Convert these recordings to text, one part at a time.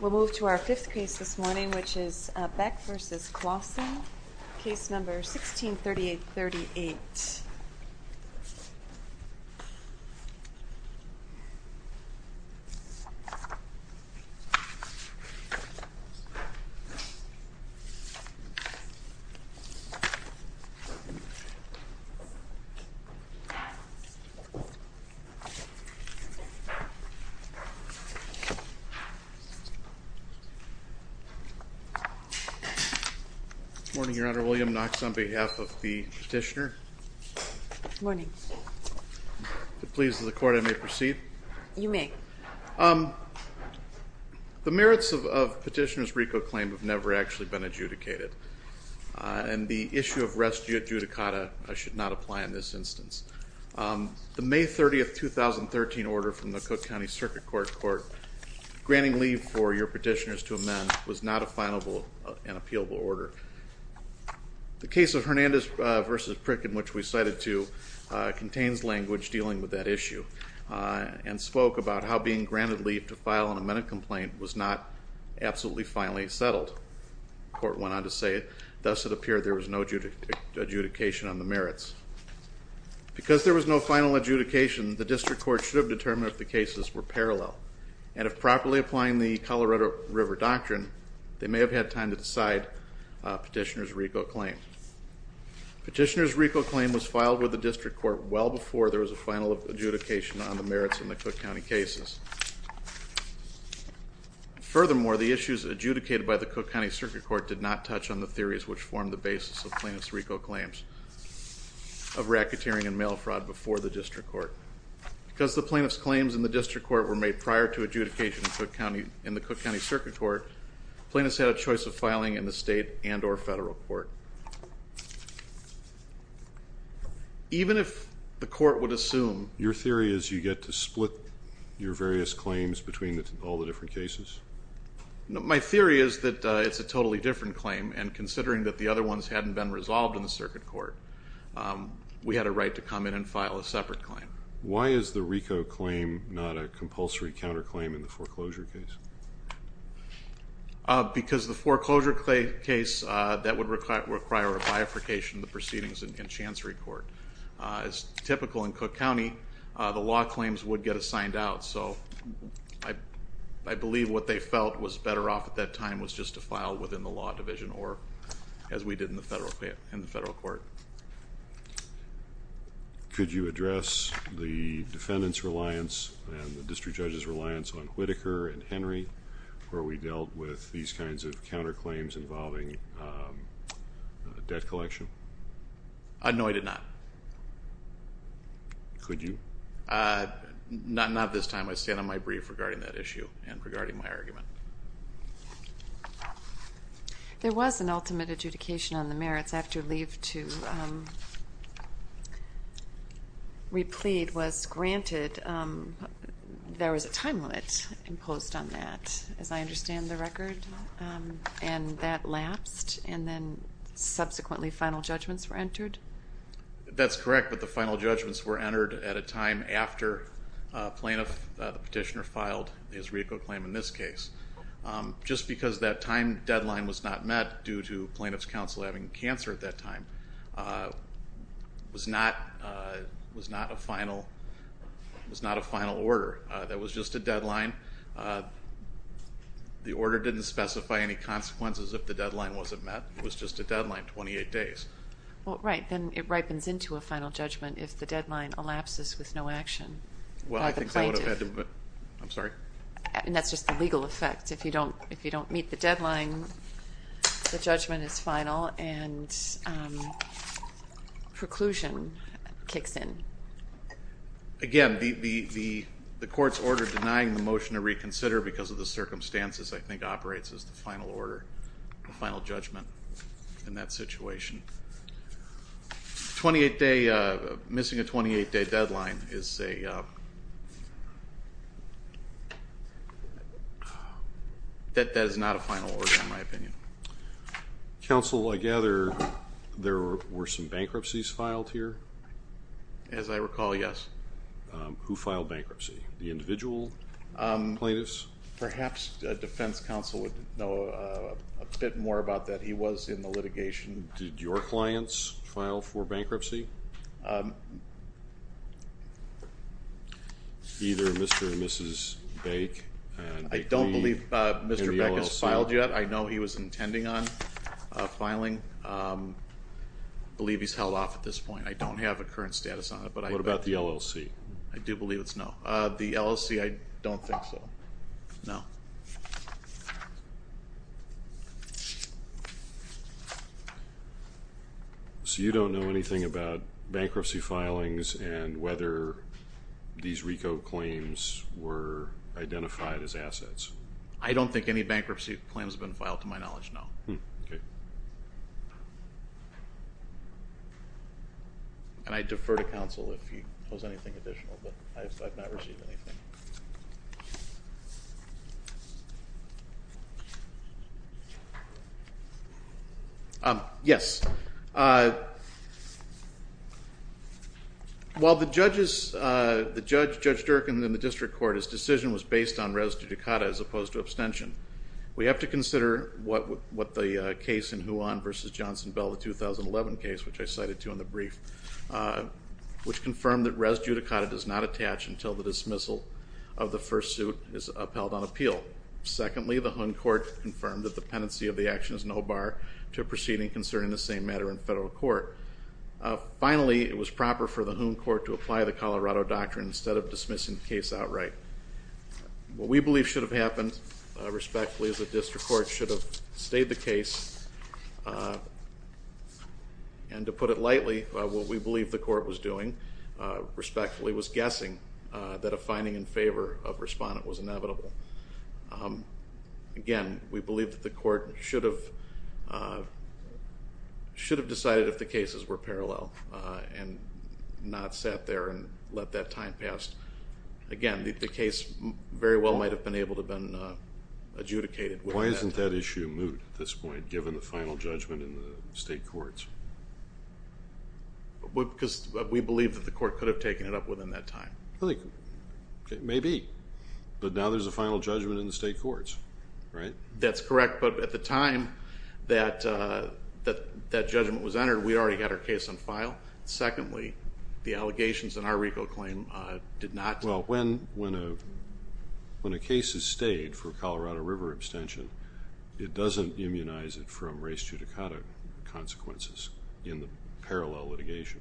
We'll move to our fifth case this morning, which is Baek v. Clausen, case number 163838. Morning, Your Honor. William Knox on behalf of the petitioner. Good morning. If it pleases the Court, I may proceed. You may. The merits of Petitioner's RICO claim have never actually been adjudicated, and the issue of res judicata I should not apply in this instance. The May 30, 2013, order from the Cook County Circuit Court, granting leave for your petitioners to amend was not a fileable and appealable order. The case of Hernandez v. Prick, in which we cited to, contains language dealing with that issue and spoke about how being granted leave to file an amended complaint was not absolutely finally settled. The Court went on to say, thus it appeared there was no adjudication on the merits. Because there was no final adjudication, the District Court should have determined if the cases were parallel, and if properly applying the Colorado River Doctrine, they may have had time to decide Petitioner's RICO claim. Petitioner's RICO claim was filed with the District Court well before there was a final adjudication on the merits in the Cook County cases. Furthermore, the issues adjudicated by the Cook County Circuit Court did not touch on the theories which formed the basis of Plaintiff's RICO claims of racketeering and mail fraud before the District Court. Because the Plaintiff's claims in the District Court were made prior to adjudication in the Cook County Circuit Court, plaintiffs had a choice of filing in the state and or federal court. Even if the Court would assume Your theory is you get to split your various claims between all the different cases? My theory is that it's a totally different claim, and considering that the other ones hadn't been resolved in the Circuit Court, we had a right to come in and file a separate claim. Why is the RICO claim not a compulsory counterclaim in the foreclosure case? Because the foreclosure case, that would require a bifurcation of the proceedings in Chancery Court. As typical in Cook County, the law claims would get assigned out, so I believe what they felt was better off at that time was just to file within the law division, or as we did in the federal court. Could you address the defendant's reliance and the District Judge's reliance on Whitaker and Henry, where we dealt with these kinds of counterclaims involving debt collection? Could you? No, I did not. Could you? Not at this time. I stand on my brief regarding that issue and regarding my argument. There was an ultimate adjudication on the merits after leave to replead was granted. There was a time limit imposed on that, as I understand the record, and that lapsed, and then subsequently final judgments were entered? That's correct, but the final judgments were entered at a time after a plaintiff, the petitioner, filed his RICO claim in this case. Just because that time deadline was not met due to plaintiff's counsel having cancer at that time was not a final order. That was just a deadline. The order didn't specify any consequences if the deadline wasn't met. It was just a deadline, 28 days. Well, right, then it ripens into a final judgment if the deadline elapses with no action by the plaintiff. Well, I think that would have had to have been, I'm sorry? And that's just the legal effect. If you don't meet the deadline, the judgment is final and preclusion kicks in. Again, the court's order denying the motion to reconsider because of the circumstances, I think, operates as the final order, the final judgment in that situation. Missing a 28-day deadline is a that is not a final order, in my opinion. Counsel, I gather there were some bankruptcies filed here? As I recall, yes. Who filed bankruptcy? The individual plaintiffs? Perhaps the defense counsel would know a bit more about that. He was in the litigation. Did your clients file for bankruptcy? Either Mr. and Mrs. Bake and the LLC? I don't believe Mr. Bake has filed yet. I know he was intending on filing. I believe he's held off at this point. I don't have a current status on it. What about the LLC? I do believe it's no. The LLC, I don't think so. No. So you don't know anything about bankruptcy filings and whether these RICO claims were identified as assets? I don't think any bankruptcy claims have been filed to my knowledge, no. Okay. And I defer to counsel if he holds anything additional, but I have not received anything. Yes. While the judge, Judge Durkan, in the district court, his decision was based on res judicata as opposed to abstention, we have to consider what the case in Juan v. Johnson-Bell, the 2011 case, which I cited too in the brief, which confirmed that res judicata does not attach until the dismissal of the first suit is upheld on appeal. Secondly, the Hoon court confirmed that the pendency of the action is no bar to proceeding concerning the same matter in federal court. Finally, it was proper for the Hoon court to apply the Colorado doctrine instead of dismissing the case outright. What we believe should have happened, respectfully, is the district court should have stayed the case. And to put it lightly, what we believe the court was doing, respectfully, was guessing that a finding in favor of respondent was inevitable. Again, we believe that the court should have decided if the cases were parallel and not sat there and let that time pass. Again, the case very well might have been able to have been adjudicated. Why isn't that issue moot at this point, given the final judgment in the state courts? Because we believe that the court could have taken it up within that time. Maybe. But now there's a final judgment in the state courts, right? That's correct. But at the time that that judgment was entered, we already had our case on file. Secondly, the allegations in our RICO claim did not. Well, when a case is stayed for Colorado River abstention, it doesn't immunize it from race judicata consequences in the parallel litigation.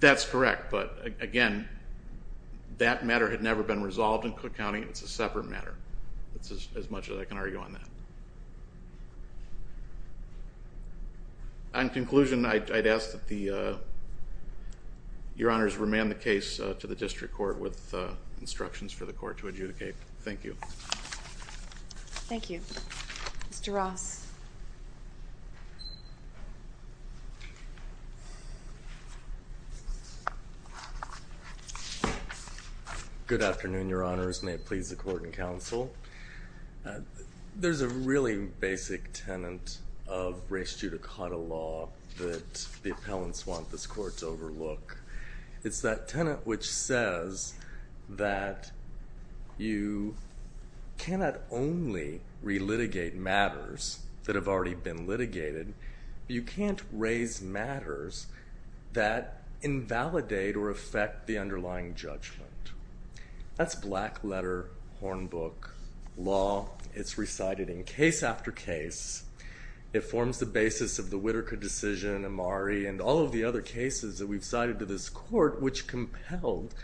That's correct. But again, that matter had never been resolved in Cook County. It's a separate matter. That's as much as I can argue on that. In conclusion, I'd ask that your honors remand the case to the district court with instructions for the court to adjudicate. Thank you. Thank you. Mr. Ross. Good afternoon, your honors may it please the court and counsel. There's a really basic tenant of race judicata law. That the appellants want this court to overlook. It's that tenant, which says that you cannot only relitigate matters that have already been litigated. You can't raise matters that invalidate or affect the underlying judgment. That's black letter horn book law. It's recited in case after case. It forms the basis of the Whittaker decision, Amari and all of the other cases that we've cited to this court, which compelled,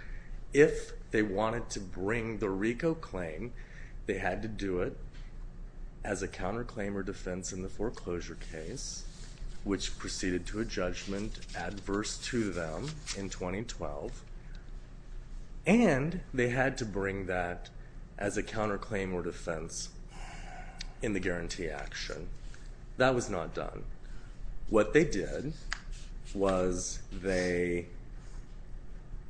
if they wanted to bring the Rico claim, they had to do it as a counter claim or defense in the foreclosure case, which proceeded to a judgment adverse to them in 2012. And they had to bring that as a counter claim or defense in the guarantee action. That was not done. What they did was they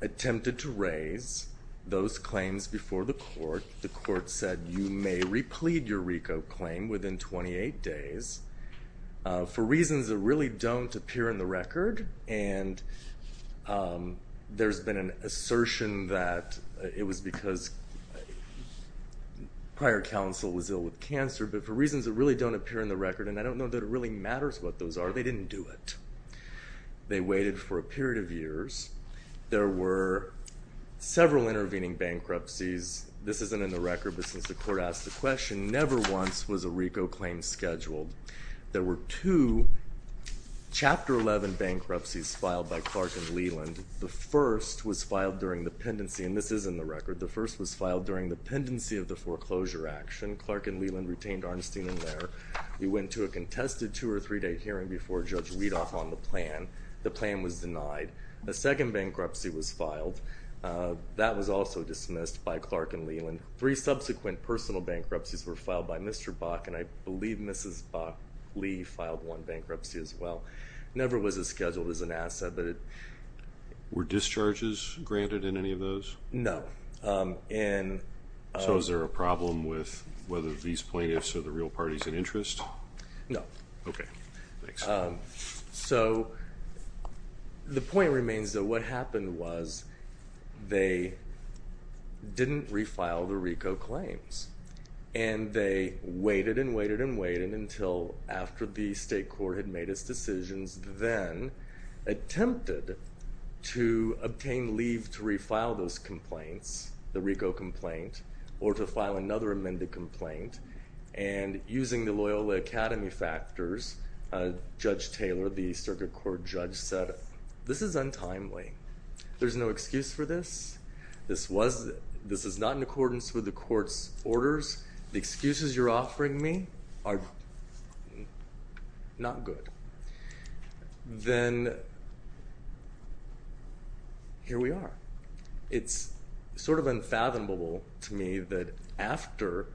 attempted to raise those claims before the court. The court said, you may replete your Rico claim within 28 days for reasons that really don't appear in the record. And there's been an assertion that it was because prior counsel was ill with cancer, but for reasons that really don't appear in the record, and I don't know that it really matters what those are, they didn't do it. They waited for a period of years. There were several intervening bankruptcies. This isn't in the record, but since the court asked the question, never once was a Rico claim scheduled. There were two Chapter 11 bankruptcies filed by Clark and Leland. The first was filed during the pendency, and this is in the record. The first was filed during the pendency of the foreclosure action. Clark and Leland retained Arnstein in there. We went to a contested two- or three-day hearing before Judge Weedoff on the plan. The plan was denied. A second bankruptcy was filed. That was also dismissed by Clark and Leland. Three subsequent personal bankruptcies were filed by Mr. Bach, and I believe Mrs. Lee filed one bankruptcy as well. Never was it scheduled as an asset. Were discharges granted in any of those? No. So is there a problem with whether these plaintiffs are the real parties in interest? No. Okay. Thanks. So the point remains that what happened was they didn't refile the Rico claims, and they waited and waited and waited until after the state court had made its decisions, then attempted to obtain leave to refile those complaints, the Rico complaint, or to file another amended complaint. And using the Loyola Academy factors, Judge Taylor, the circuit court judge, said this is untimely. There's no excuse for this. This is not in accordance with the court's orders. The excuses you're offering me are not good. Then here we are. It's sort of unfathomable to me that after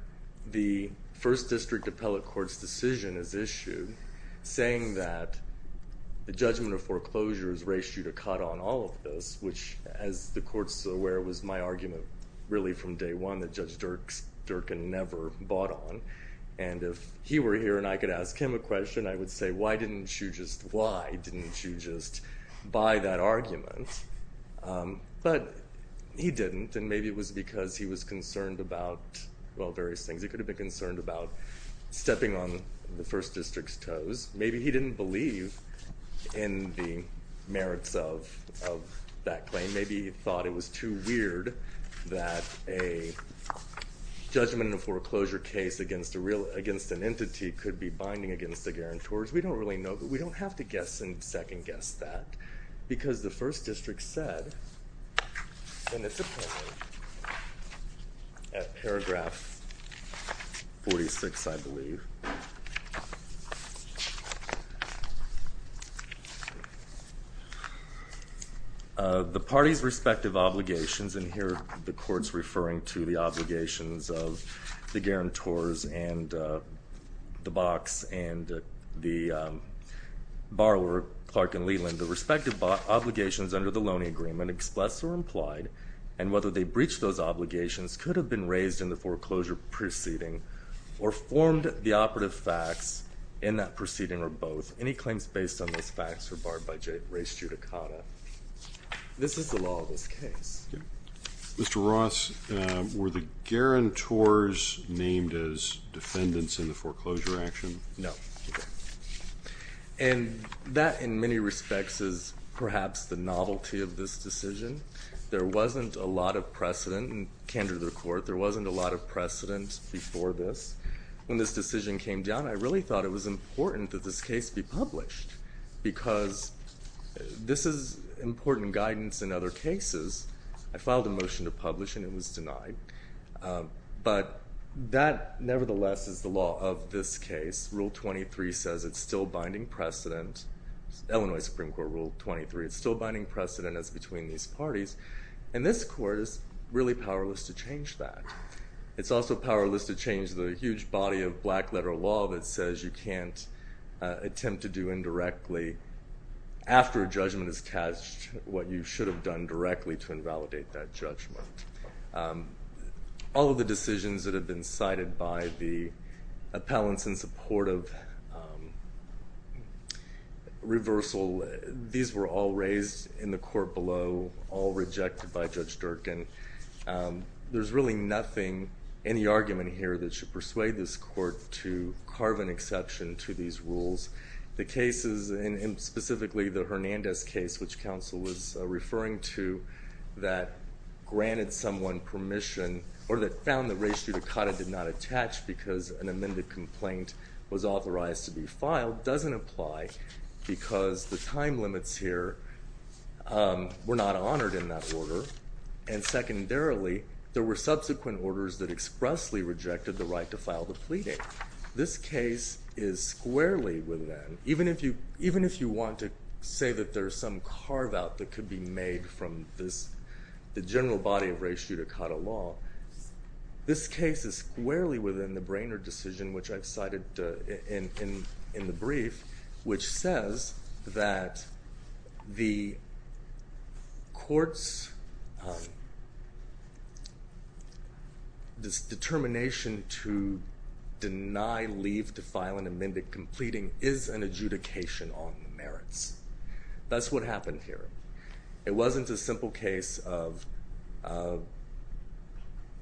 the first district appellate court's decision is issued, saying that the judgment of foreclosures raised you to cut on all of this, which, as the court's aware, was my argument really from day one that Judge Durkan never bought on. And if he were here and I could ask him a question, I would say why didn't you just buy that argument? But he didn't, and maybe it was because he was concerned about various things. He could have been concerned about stepping on the first district's toes. Maybe he didn't believe in the merits of that claim. Maybe he thought it was too weird that a judgment in a foreclosure case against an entity could be binding against the guarantors. We don't really know. But we don't have to guess and second-guess that, because the first district said in its appellate at paragraph 46, I believe, the party's respective obligations, and here the court's referring to the obligations of the guarantors and the box and the borrower, Clark and Leland, the respective obligations under the Loaning Agreement expressed or implied, and whether they breached those obligations could have been raised in the foreclosure proceeding or formed the operative facts in that proceeding or both. Any claims based on those facts are barred by race judicata. This is the law of this case. Mr. Ross, were the guarantors named as defendants in the foreclosure action? No. And that, in many respects, is perhaps the novelty of this decision. There wasn't a lot of precedent, and candor to the court, there wasn't a lot of precedent before this. When this decision came down, I really thought it was important that this case be published, because this is important guidance in other cases. I filed a motion to publish, and it was denied. But that, nevertheless, is the law of this case. Rule 23 says it's still binding precedent. Illinois Supreme Court Rule 23, it's still binding precedent as between these parties, and this court is really powerless to change that. It's also powerless to change the huge body of black-letter law that says you can't attempt to do indirectly, after a judgment is cast, what you should have done directly to invalidate that judgment. All of the decisions that have been cited by the appellants in support of reversal, these were all raised in the court below, all rejected by Judge Durkan. There's really nothing in the argument here that should persuade this court to carve an exception to these rules. The cases, and specifically the Hernandez case, which counsel was referring to, that granted someone permission, or that found that res judicata did not attach because an amended complaint was authorized to be filed, doesn't apply, because the time limits here were not honored in that order. And secondarily, there were subsequent orders that expressly rejected the right to file the pleading. This case is squarely within, even if you want to say that there's some carve-out that could be made from the general body of res judicata law, this case is squarely within the Brainerd decision, which I've cited in the brief, which says that the court's determination to deny leave to file an amended completing is an adjudication on merits. That's what happened here. It wasn't a simple case of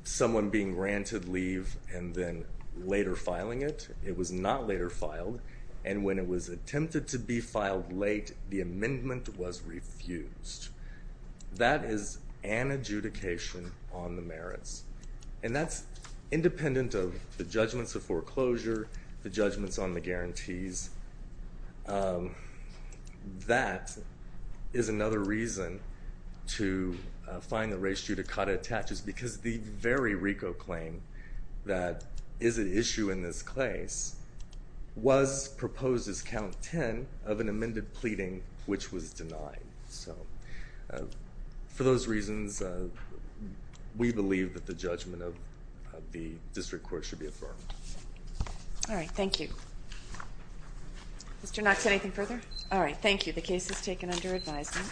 someone being granted leave and then later filing it. It was not later filed, and when it was attempted to be filed late, the amendment was refused. That is an adjudication on the merits. And that's independent of the judgments of foreclosure, the judgments on the guarantees. That is another reason to find that res judicata attaches, because the very RICO claim that is at issue in this case was proposed as count 10 of an amended pleading which was denied. So for those reasons, we believe that the judgment of the district court should be affirmed. All right, thank you. Mr. Knox, anything further? All right, thank you. The case is taken under advisement.